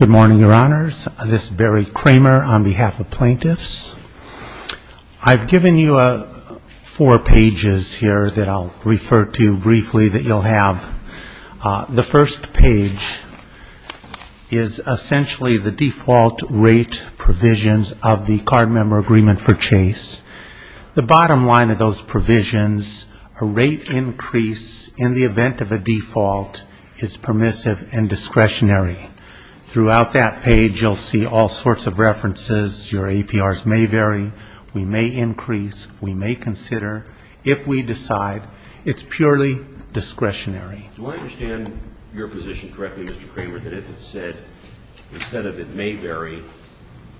Good morning, Your Honors. This is Barry Kramer on behalf of plaintiffs. I've given you four pages here that I'll refer to briefly that you'll have. The first page is essentially the default rate provisions of the card member agreement for Chase. The bottom line of those provisions, a rate increase in the event of a default is permissive and discretionary. Throughout that page, you'll see all sorts of references. Your APRs may vary. We may increase. We may consider. If we decide, it's purely discretionary. Do I understand your position correctly, Mr. Kramer, that if it said, instead of it may vary,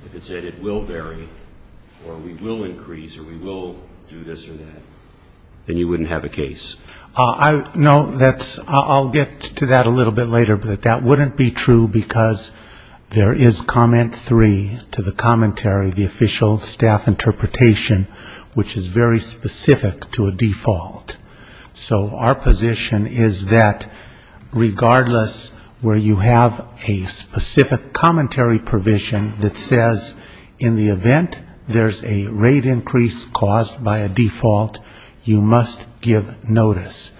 if it said it will vary or we will increase or we will do this or that, then you wouldn't have a case? No, I'll get to that a little bit later, but that wouldn't be true because there is comment three to the commentary, the official staff interpretation, which is very specific to a default. So our position is that regardless where you have a specific commentary provision that says in the event there's a rate increase caused by a default, you must give notice.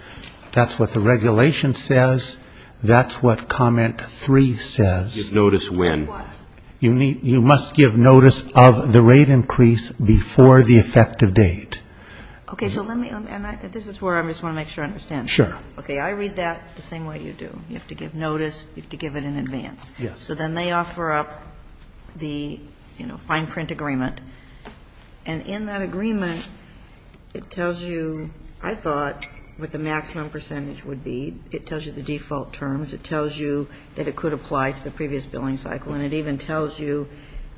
That's what the regulation says. That's what comment three says. Give notice when? You must give notice of the rate increase before the effective date. Okay. So let me, and this is where I just want to make sure I understand it. Sure. Okay. I read that the same way you do. You have to give notice. You have to give it in advance. Yes. So then they offer up the, you know, fine print agreement. And in that agreement, it tells you, I thought, what the maximum percentage would be. It tells you the default terms. It tells you that it could apply to the previous billing cycle. And it even tells you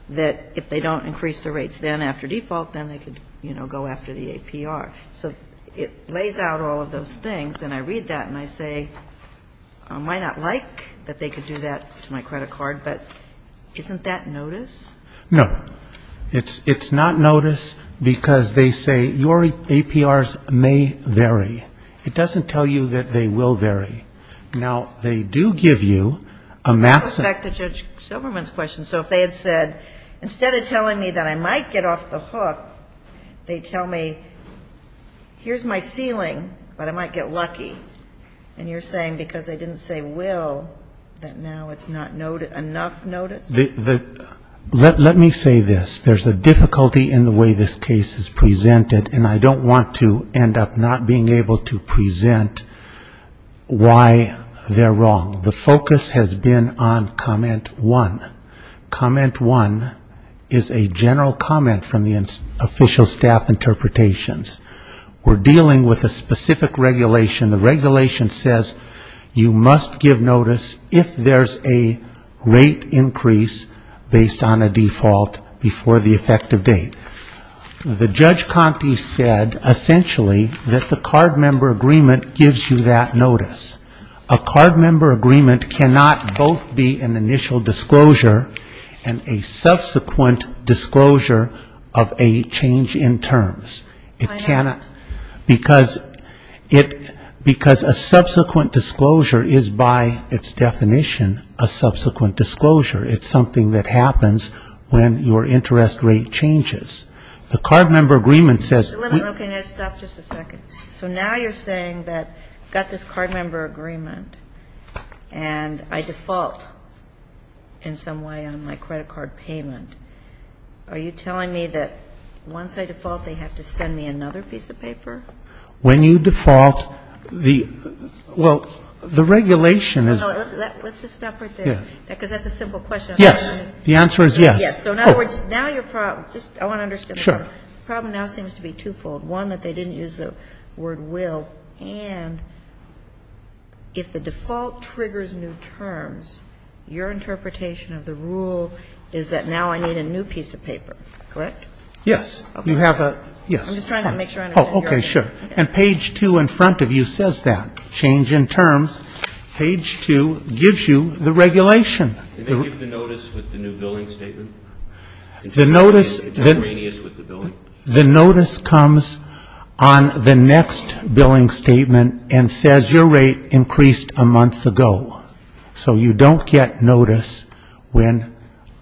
that if they don't increase the rates then after default, then they could, you know, go after the APR. So it lays out all of those things. And I read that and I say, I might not like that they could do that to my credit card, but isn't that notice? No. It's not notice because they say your APRs may vary. It doesn't tell you that they will vary. Now, they do give you a maximum. Going back to Judge Silverman's question, so if they had said, instead of telling me that I might get off the hook, they tell me here's my ceiling, but I might get lucky. And you're saying because they didn't say will, that now it's not enough notice? Let me say this. There's a difficulty in the way this case is presented, and I don't want to end up not being able to present why they're wrong. The focus has been on comment one. Comment one is a general comment from the official staff interpretations. We're dealing with a specific regulation. The regulation says you must give notice if there's a rate increase based on a default before the effective date. The Judge Conte said, essentially, that the card member agreement gives you that notice. A card member agreement cannot both be an initial disclosure and a subsequent disclosure of a change in terms. It cannot. Because it ‑‑ because a subsequent disclosure is, by its definition, a subsequent disclosure. It's something that happens when your interest rate changes. The card member agreement says ‑‑ Sotomayor, let me stop just a second. So now you're saying that I've got this card member agreement, and I default in some way on my credit card payment. Are you telling me that once I default, they have to send me another piece of paper? When you default, the ‑‑ well, the regulation is ‑‑ Let's just stop right there. Because that's a simple question. Yes. The answer is yes. Yes. So in other words, now your problem ‑‑ I want to understand. Sure. The problem now seems to be twofold. One, that they didn't use the word will. And if the default triggers new terms, your interpretation of the rule is that now I need a new piece of paper. Correct? Yes. You have a ‑‑ yes. I'm just trying to make sure I understand. Oh, okay. Sure. And page 2 in front of you says that. Change in terms. Page 2 gives you the regulation. And they give the notice with the new billing statement? The notice comes on the next billing statement and says your rate increased a month ago. So you don't get notice when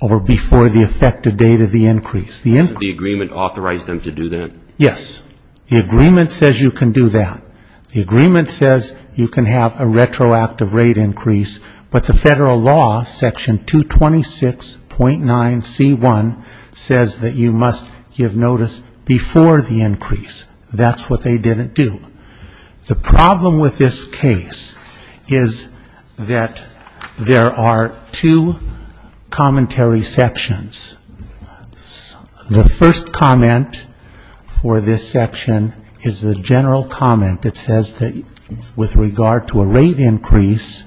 or before the effective date of the increase. Doesn't the agreement authorize them to do that? Yes. The agreement says you can do that. The agreement says you can have a retroactive rate increase. But the federal law, section 226.9C1, says that you must give notice before the increase. That's what they didn't do. The problem with this case is that there are two commentary sections. The first comment for this section is the general comment that says that with regard to a rate increase,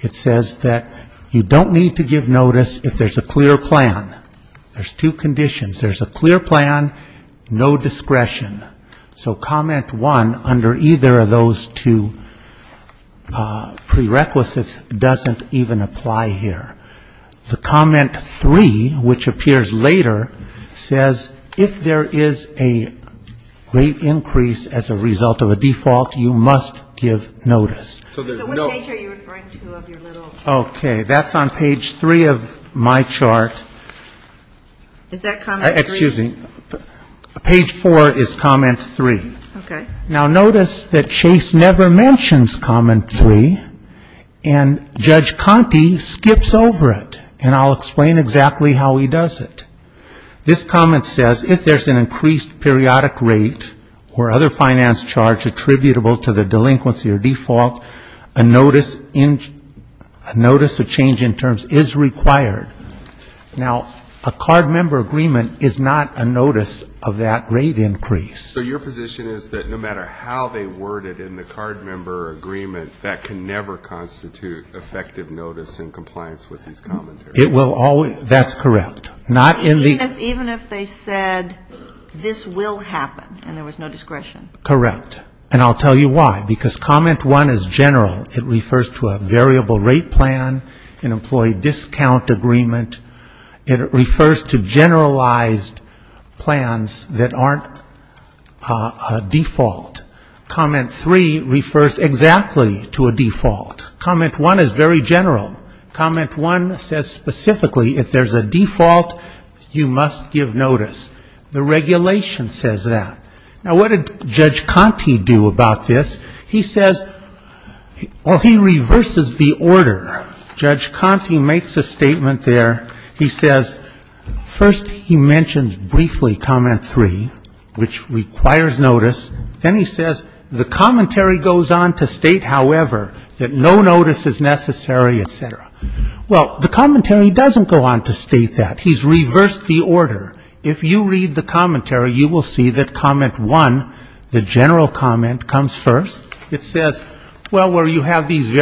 it says that you don't need to give notice if there's a clear plan. There's two conditions. There's a clear plan, no discretion. So comment 1, under either of those two prerequisites, doesn't even apply here. The comment 3, which appears later, says if there is a rate increase as a result of a default, you must give notice. So what page are you referring to of your little chart? Okay. That's on page 3 of my chart. Is that comment 3? Excuse me. Page 4 is comment 3. Okay. Now, notice that Chase never mentions comment 3. And Judge Conte skips over it. And I'll explain exactly how he does it. This comment says if there's an increased periodic rate or other finance charge attributable to the delinquency or default, a notice of change in terms is required. Now, a card member agreement is not a notice of that rate increase. So your position is that no matter how they word it in the card member agreement, that can never constitute effective notice in compliance with these commentaries? That's correct. Even if they said this will happen and there was no discretion? Correct. And I'll tell you why. Because comment 1 is general. It refers to a variable rate plan, an employee discount agreement. It refers to generalized plans that aren't a default. Comment 3 refers exactly to a default. Comment 1 is very general. Comment 1 says specifically if there's a default, you must give notice. The regulation says that. Now, what did Judge Conte do about this? He says, well, he reverses the order. Judge Conte makes a statement there. He says first he mentions briefly comment 3, which requires notice. Then he says the commentary goes on to state, however, that no notice is necessary, et cetera. Well, the commentary doesn't go on to state that. He's reversed the order. If you read the commentary, you will see that comment 1, the general comment, comes first. It says, well, where you have these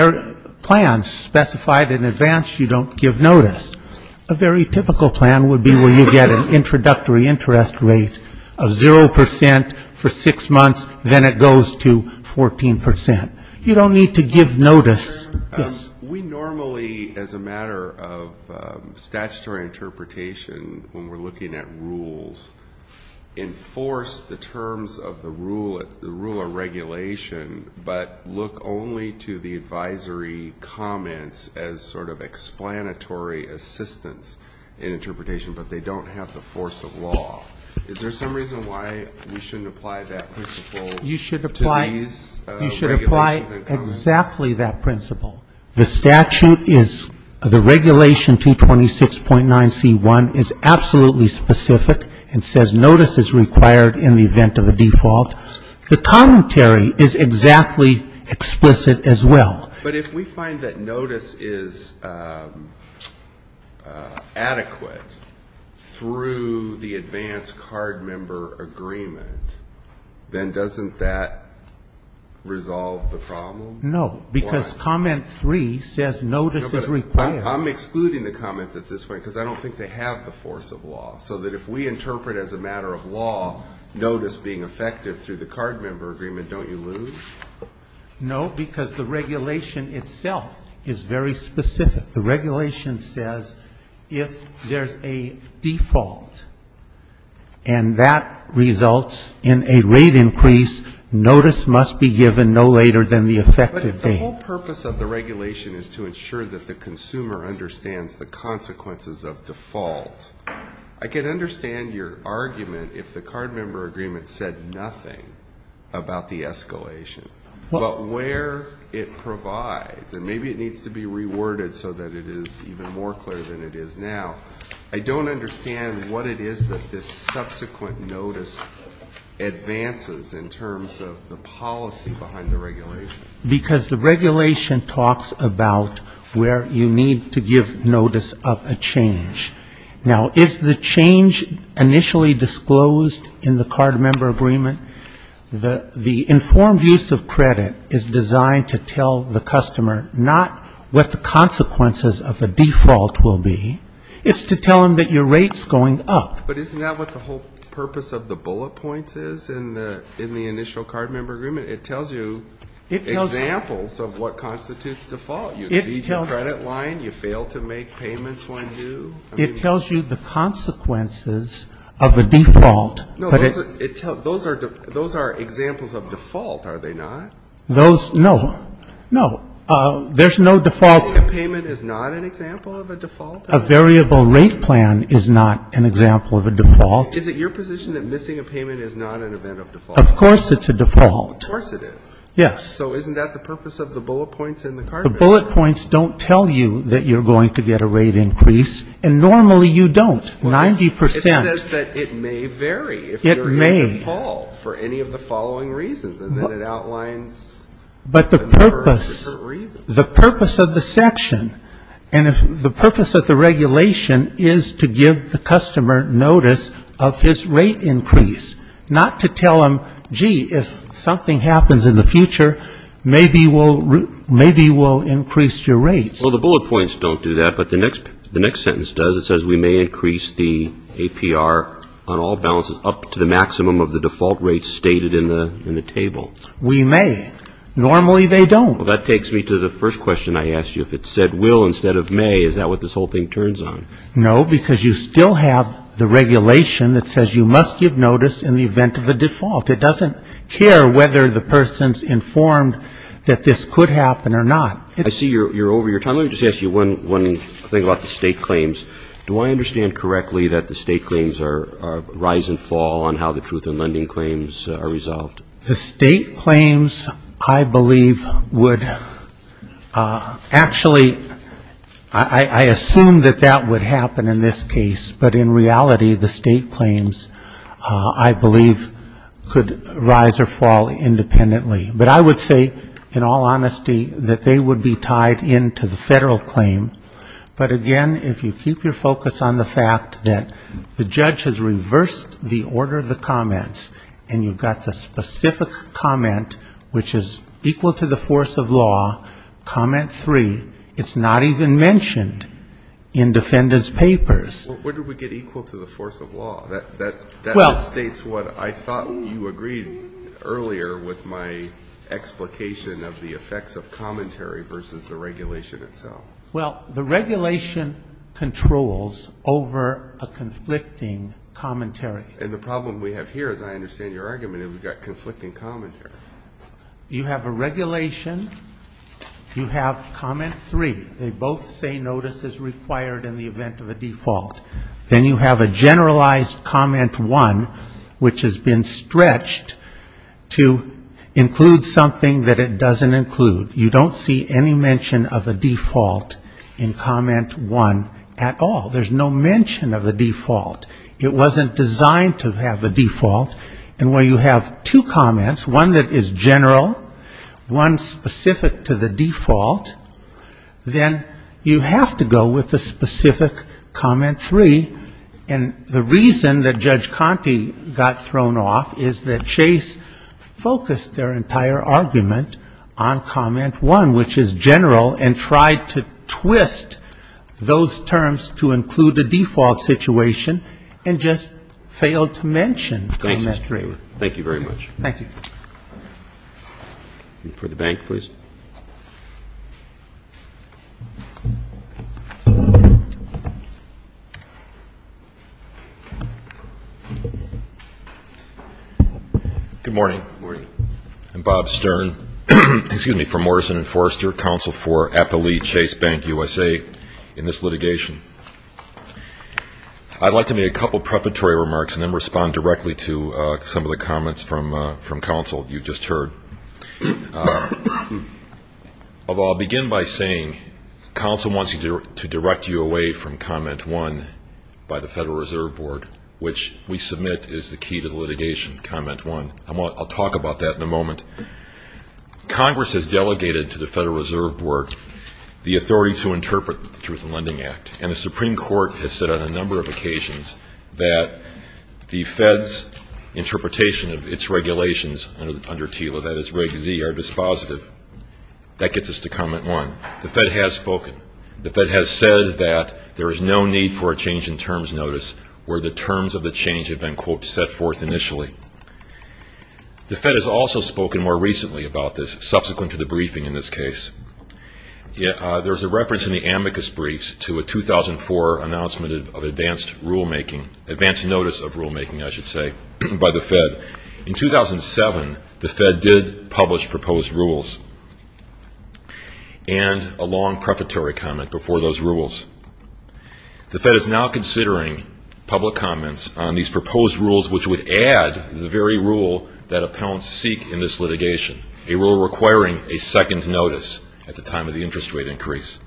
plans specified in advance, you don't give notice. A very typical plan would be where you get an introductory interest rate of 0% for six months. Then it goes to 14%. You don't need to give notice. Yes? We normally, as a matter of statutory interpretation, when we're looking at rules, enforce the terms of the rule of regulation, but look only to the advisory comments as sort of explanatory assistance in interpretation, but they don't have the force of law. Is there some reason why we shouldn't apply that principle to these regulations? You should apply exactly that principle. The statute is the regulation 226.9c1 is absolutely specific. It says notice is required in the event of a default. The commentary is exactly explicit as well. But if we find that notice is adequate through the advance card member agreement, then doesn't that resolve the problem? No, because comment 3 says notice is required. I'm excluding the comments at this point because I don't think they have the force of law, so that if we interpret as a matter of law, notice being effective through the card member agreement, don't you lose? No, because the regulation itself is very specific. The regulation says if there's a default, and that results in a rate increase, notice must be given no later than the effective date. But if the whole purpose of the regulation is to ensure that the consumer understands the consequences of default, I can understand your argument if the card member agreement said nothing about the escalation, but where it provides, and maybe it needs to be reworded so that it is even more clear than it is now. I don't understand what it is that this subsequent notice advances in terms of the policy behind the regulation. Because the regulation talks about where you need to give notice of a change. Now, is the change initially disclosed in the card member agreement? The informed use of credit is designed to tell the customer not what the consequences of a default will be. It's to tell them that your rate's going up. But isn't that what the whole purpose of the bullet points is in the initial card member agreement? It tells you examples of what constitutes default. You exceed your credit line. You fail to make payments when due. It tells you the consequences of a default. No, those are examples of default, are they not? Those, no. No. There's no default. A payment is not an example of a default? A variable rate plan is not an example of a default. Is it your position that missing a payment is not an event of default? Of course it's a default. Of course it is. Yes. So isn't that the purpose of the bullet points in the card member agreement? The bullet points don't tell you that you're going to get a rate increase. And normally you don't, 90%. It says that it may vary if you're in default for any of the following reasons. And then it outlines a number of different reasons. But the purpose, the purpose of the section, and the purpose of the regulation is to give the customer notice of his rate increase. Not to tell him, gee, if something happens in the future, maybe we'll increase your rates. Well, the bullet points don't do that. But the next sentence does. It says we may increase the APR on all balances up to the maximum of the default rates stated in the table. We may. Normally they don't. Well, that takes me to the first question I asked you. If it said will instead of may, is that what this whole thing turns on? No, because you still have the regulation that says you must give notice in the event of a default. It doesn't care whether the person's informed that this could happen or not. I see you're over your time. Let me just ask you one thing about the state claims. Do I understand correctly that the state claims are rise and fall on how the truth in lending claims are resolved? The state claims, I believe, would actually, I assume that that would happen in this case, but in reality the state claims, I believe, could rise or fall independently. But I would say, in all honesty, that they would be tied into the federal claim. But, again, if you keep your focus on the fact that the judge has reversed the order of the comments and you've got the specific comment, which is equal to the force of law, comment three, it's not even mentioned in defendant's papers. Well, where do we get equal to the force of law? That just states what I thought you agreed earlier with my explication of the effects of commentary versus the regulation itself. Well, the regulation controls over a conflicting commentary. And the problem we have here, as I understand your argument, is we've got conflicting commentary. You have a regulation. You have comment three. They both say notice is required in the event of a default. Then you have a generalized comment one, which has been stretched to include something that it doesn't include. You don't see any mention of a default in comment one at all. There's no mention of a default. It wasn't designed to have a default. And when you have two comments, one that is general, one specific to the default, then you have to go with the specific comment three. And the reason that Judge Conte got thrown off is that Chase focused their entire argument on comment one, which is general, and tried to twist those terms to include a default situation and just failed to mention comment three. Thank you very much. Thank you. For the bank, please. Good morning. Good morning. I'm Bob Stern from Morrison & Forrester, Counsel for Appalachia Chase Bank USA in this litigation. I'd like to make a couple prefatory remarks and then respond directly to some of the comments from counsel you just heard. I'll begin by saying counsel wants to direct you away from comment one by the Federal Reserve Board, which we submit is the key to the litigation, comment one. I'll talk about that in a moment. Congress has delegated to the Federal Reserve Board the authority to interpret the Truth in Lending Act, and the Supreme Court has said on a number of occasions that the Fed's interpretation of its regulations under TILA, that is Reg Z, are dispositive. That gets us to comment one. The Fed has spoken. The Fed has said that there is no need for a change in terms notice where the terms of the change have been, quote, set forth initially. The Fed has also spoken more recently about this subsequent to the briefing in this case. There's a reference in the amicus briefs to a 2004 announcement of advanced rulemaking, advanced notice of rulemaking, I should say, by the Fed. In 2007, the Fed did publish proposed rules, and a long prefatory comment before those rules. The Fed is now considering public comments on these proposed rules, which would add the very rule that appellants seek in this litigation, a rule requiring a second notice at the time of the interest rate increase.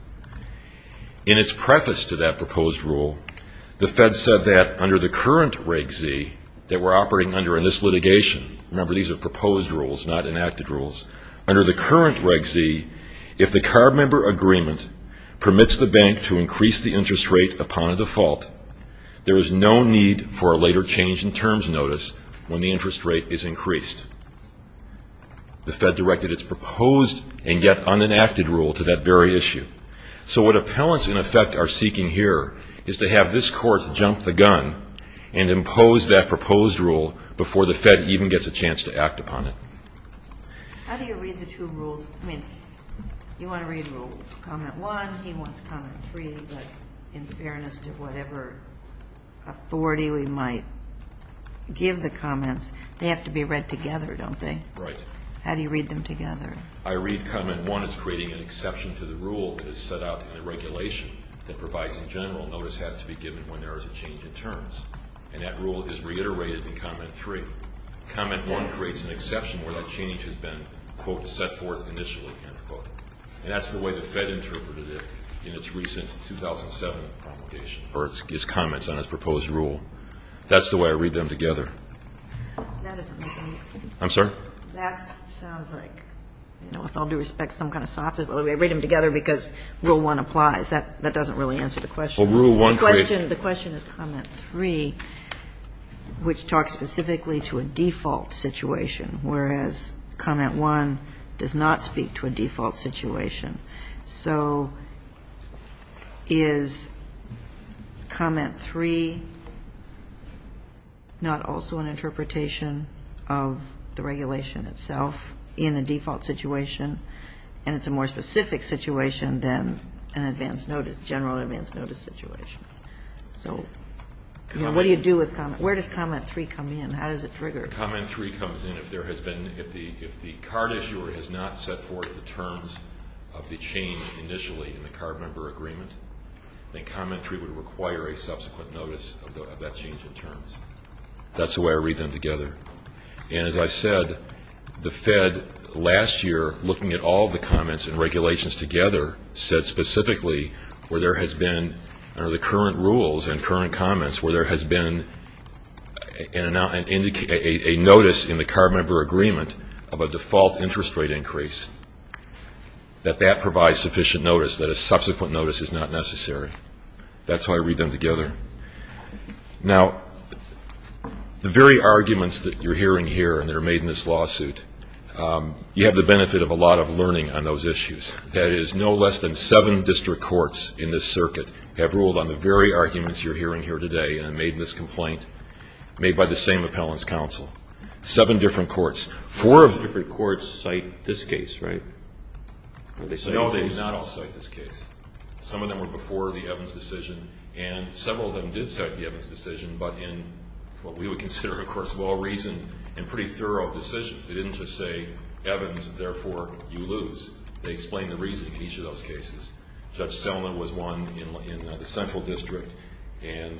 In its preface to that proposed rule, the Fed said that under the current Reg Z, that we're operating under in this litigation, remember these are proposed rules, not enacted rules, under the current Reg Z, if the CARB member agreement permits the bank to increase the interest rate upon a default, there is no need for a later change in terms notice when the interest rate is increased. The Fed directed its proposed and yet unenacted rule to that very issue. So what appellants, in effect, are seeking here is to have this court jump the gun and impose that proposed rule before the Fed even gets a chance to act upon it. How do you read the two rules? I mean, you want to read rule comment one, he wants comment three, but in fairness to whatever authority we might give the comments, they have to be read together, don't they? Right. How do you read them together? I read comment one as creating an exception to the rule that is set out in the regulation that provides a general notice has to be given when there is a change in terms, and that rule is reiterated in comment three. Comment one creates an exception where that change has been, quote, set forth initially, end quote. And that's the way the Fed interpreted it in its recent 2007 promulgation, or its comments on its proposed rule. That's the way I read them together. That doesn't make any sense. I'm sorry? That sounds like, you know, with all due respect, some kind of sophism. I read them together because rule one applies. That doesn't really answer the question. Rule one creates. The question is comment three, which talks specifically to a default situation, whereas comment one does not speak to a default situation. So is comment three not also an interpretation of the regulation itself in a default situation, and it's a more specific situation than an advance notice, general advance notice situation? So, you know, what do you do with comment? Where does comment three come in? How does it trigger? When comment three comes in, if there has been, if the card issuer has not set forth the terms of the change initially in the card member agreement, then comment three would require a subsequent notice of that change in terms. That's the way I read them together. And as I said, the Fed last year, looking at all the comments and regulations together, said specifically where there has been, under the current rules and current comments, where there has been a notice in the card member agreement of a default interest rate increase, that that provides sufficient notice, that a subsequent notice is not necessary. That's how I read them together. Now, the very arguments that you're hearing here and that are made in this lawsuit, you have the benefit of a lot of learning on those issues. That is, no less than seven district courts in this circuit have ruled on the very arguments you're hearing here today and made this complaint, made by the same appellant's counsel. Seven different courts. Four of the different courts cite this case, right? No, they did not all cite this case. Some of them were before the Evans decision, and several of them did cite the Evans decision, but in what we would consider, of course, well-reasoned and pretty thorough decisions. They didn't just say, Evans, therefore, you lose. They explained the reasoning in each of those cases. Judge Selman was one in the Central District, and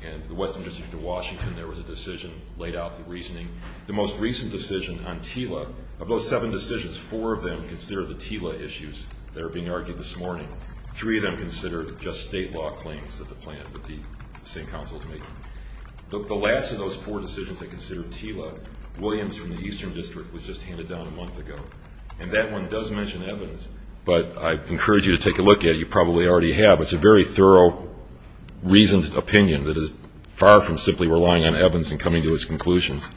in the Western District of Washington, there was a decision that laid out the reasoning. The most recent decision on TILA, of those seven decisions, four of them considered the TILA issues that are being argued this morning. Three of them considered just state law claims that the same counsel has made. The last of those four decisions that considered TILA, Williams from the Eastern District was just handed down a month ago, and that one does mention Evans, but I encourage you to take a look at it. You probably already have. It's a very thorough, reasoned opinion that is far from simply relying on Evans and coming to his conclusions.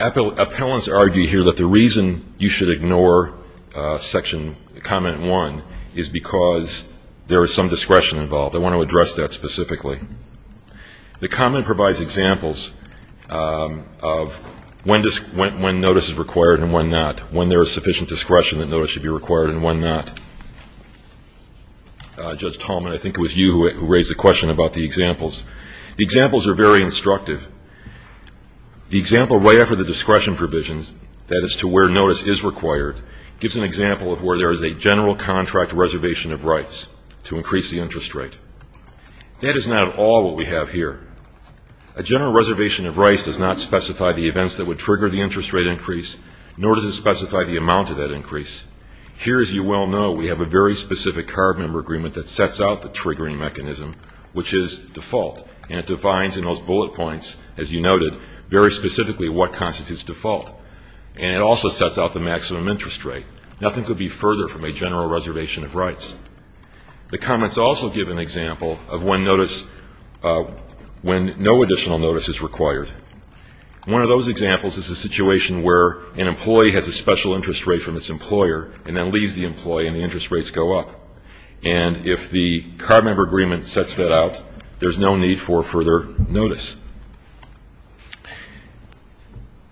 Appellants argue here that the reason you should ignore section, comment one, is because there is some discretion involved. They want to address that specifically. The comment provides examples of when notice is required and when not, when there is sufficient discretion that notice should be required and when not. Judge Tallman, I think it was you who raised the question about the examples. The examples are very instructive. The example right after the discretion provisions, that is to where notice is required, gives an example of where there is a general contract reservation of rights to increase the interest rate. That is not at all what we have here. A general reservation of rights does not specify the events that would trigger the interest rate increase, nor does it specify the amount of that increase. Here, as you well know, we have a very specific card member agreement that sets out the triggering mechanism, which is default, and it defines in those bullet points, as you noted, very specifically what constitutes default. And it also sets out the maximum interest rate. Nothing could be further from a general reservation of rights. The comments also give an example of when notice, when no additional notice is required. One of those examples is a situation where an employee has a special interest rate from its employer and then leaves the employee and the interest rates go up. And if the card member agreement sets that out, there's no need for further notice.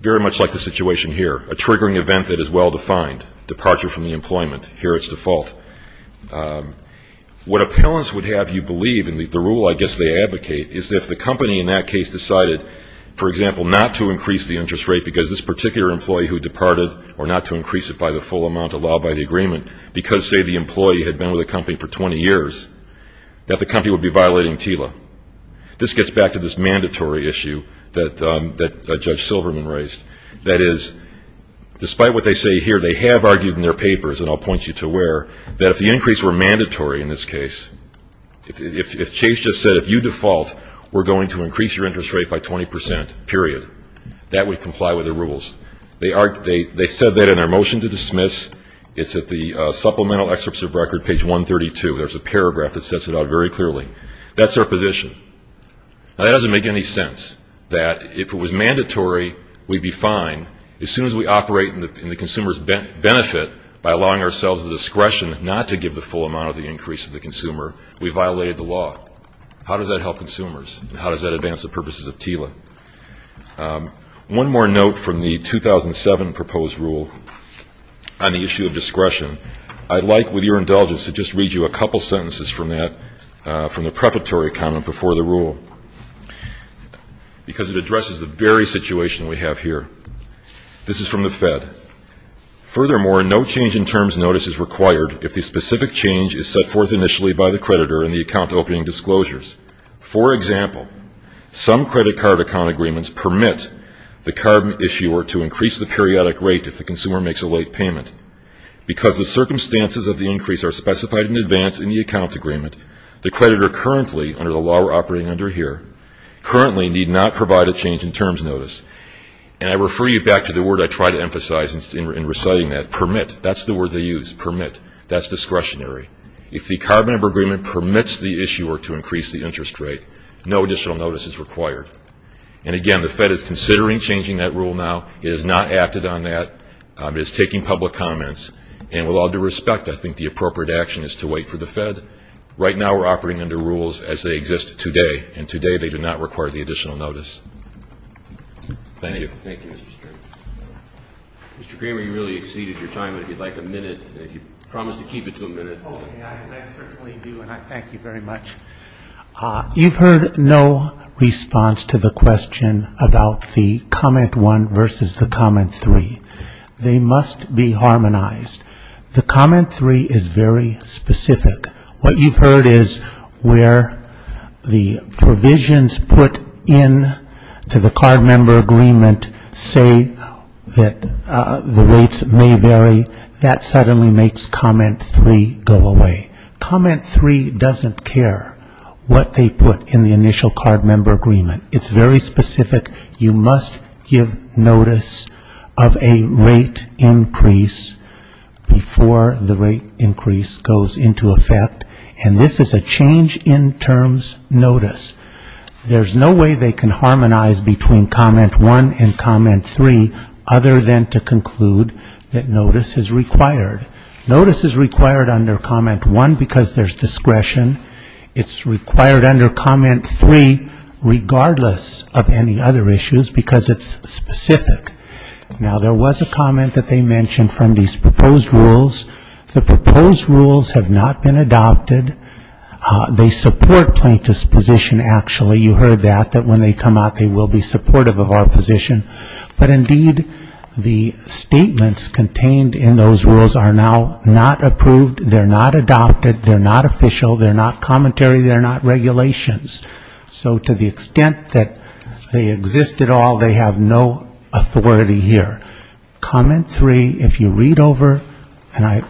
Very much like the situation here, a triggering event that is well defined, departure from the employment, here it's default. What appellants would have you believe, and the rule I guess they advocate, is if the company in that case decided, for example, not to increase the interest rate because this particular employee who departed or not to increase it by the full amount allowed by the agreement because, say, the employee had been with the company for 20 years, that the company would be violating TILA. This gets back to this mandatory issue that Judge Silverman raised. That is, despite what they say here, they have argued in their papers, and I'll point you to where, that if the increase were mandatory in this case, if Chase just said, if you default, we're going to increase your interest rate by 20 percent, period, that would comply with the rules. They said that in their motion to dismiss. It's at the supplemental excerpts of record, page 132. There's a paragraph that sets it out very clearly. That's their position. Now, that doesn't make any sense, that if it was mandatory, we'd be fine. As soon as we operate in the consumer's benefit by allowing ourselves the discretion not to give the full amount of the increase to the consumer, we violated the law. How does that help consumers, and how does that advance the purposes of TILA? One more note from the 2007 proposed rule on the issue of discretion. I'd like, with your indulgence, to just read you a couple sentences from that, from the preparatory comment before the rule, because it addresses the very situation we have here. This is from the Fed. Furthermore, no change in terms notice is required if the specific change is set forth initially by the creditor in the account opening disclosures. For example, some credit card account agreements permit the card issuer to increase the periodic rate if the consumer makes a late payment. Because the circumstances of the increase are specified in advance in the account agreement, the creditor currently, under the law we're operating under here, currently need not provide a change in terms notice. And I refer you back to the word I try to emphasize in reciting that, permit. That's the word they use, permit. That's discretionary. If the card member agreement permits the issuer to increase the interest rate, no additional notice is required. And again, the Fed is considering changing that rule now. It has not acted on that. It is taking public comments. Right now we're operating under rules as they exist today, and today they do not require the additional notice. Thank you. Thank you, Mr. String. Mr. Kramer, you really exceeded your time. If you'd like a minute, if you promise to keep it to a minute. Okay, I certainly do, and I thank you very much. You've heard no response to the question about the comment one versus the comment three. They must be harmonized. The comment three is very specific. What you've heard is where the provisions put in to the card member agreement say that the rates may vary. That suddenly makes comment three go away. Comment three doesn't care what they put in the initial card member agreement. It's very specific. You must give notice of a rate increase before the rate increase goes into effect, and this is a change in terms notice. There's no way they can harmonize between comment one and comment three other than to conclude that notice is required. Notice is required under comment one because there's discretion. It's required under comment three regardless of any other issues because it's specific. Now, there was a comment that they mentioned from these proposed rules. The proposed rules have not been adopted. They support plaintiff's position, actually. You heard that, that when they come out they will be supportive of our position. But, indeed, the statements contained in those rules are now not approved. They're not adopted. They're not official. They're not commentary. They're not regulations. So to the extent that they exist at all, they have no authority here. Comment three, if you read over, and I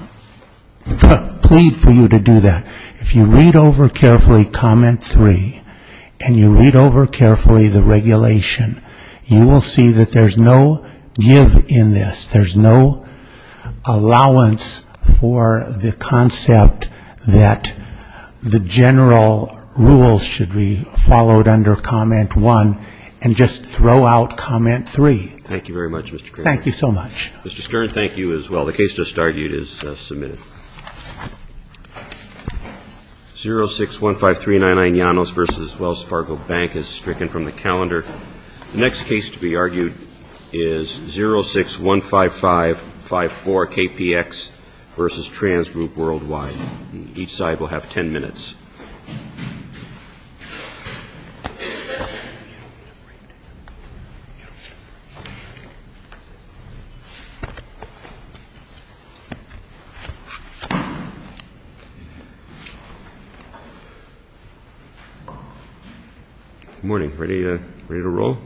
plead for you to do that, if you read over carefully comment three and you read over carefully the regulation, you will see that there's no give in this. There's no allowance for the concept that the general rules should be followed under comment one and just throw out comment three. Thank you very much, Mr. Kern. Thank you so much. Mr. Stern, thank you as well. The case just argued is submitted. 0615399 Llanos v. Wells Fargo Bank is stricken from the calendar. The next case to be argued is 0615554 KPX v. Trans Group Worldwide. Each side will have ten minutes. Good morning. Ready to roll?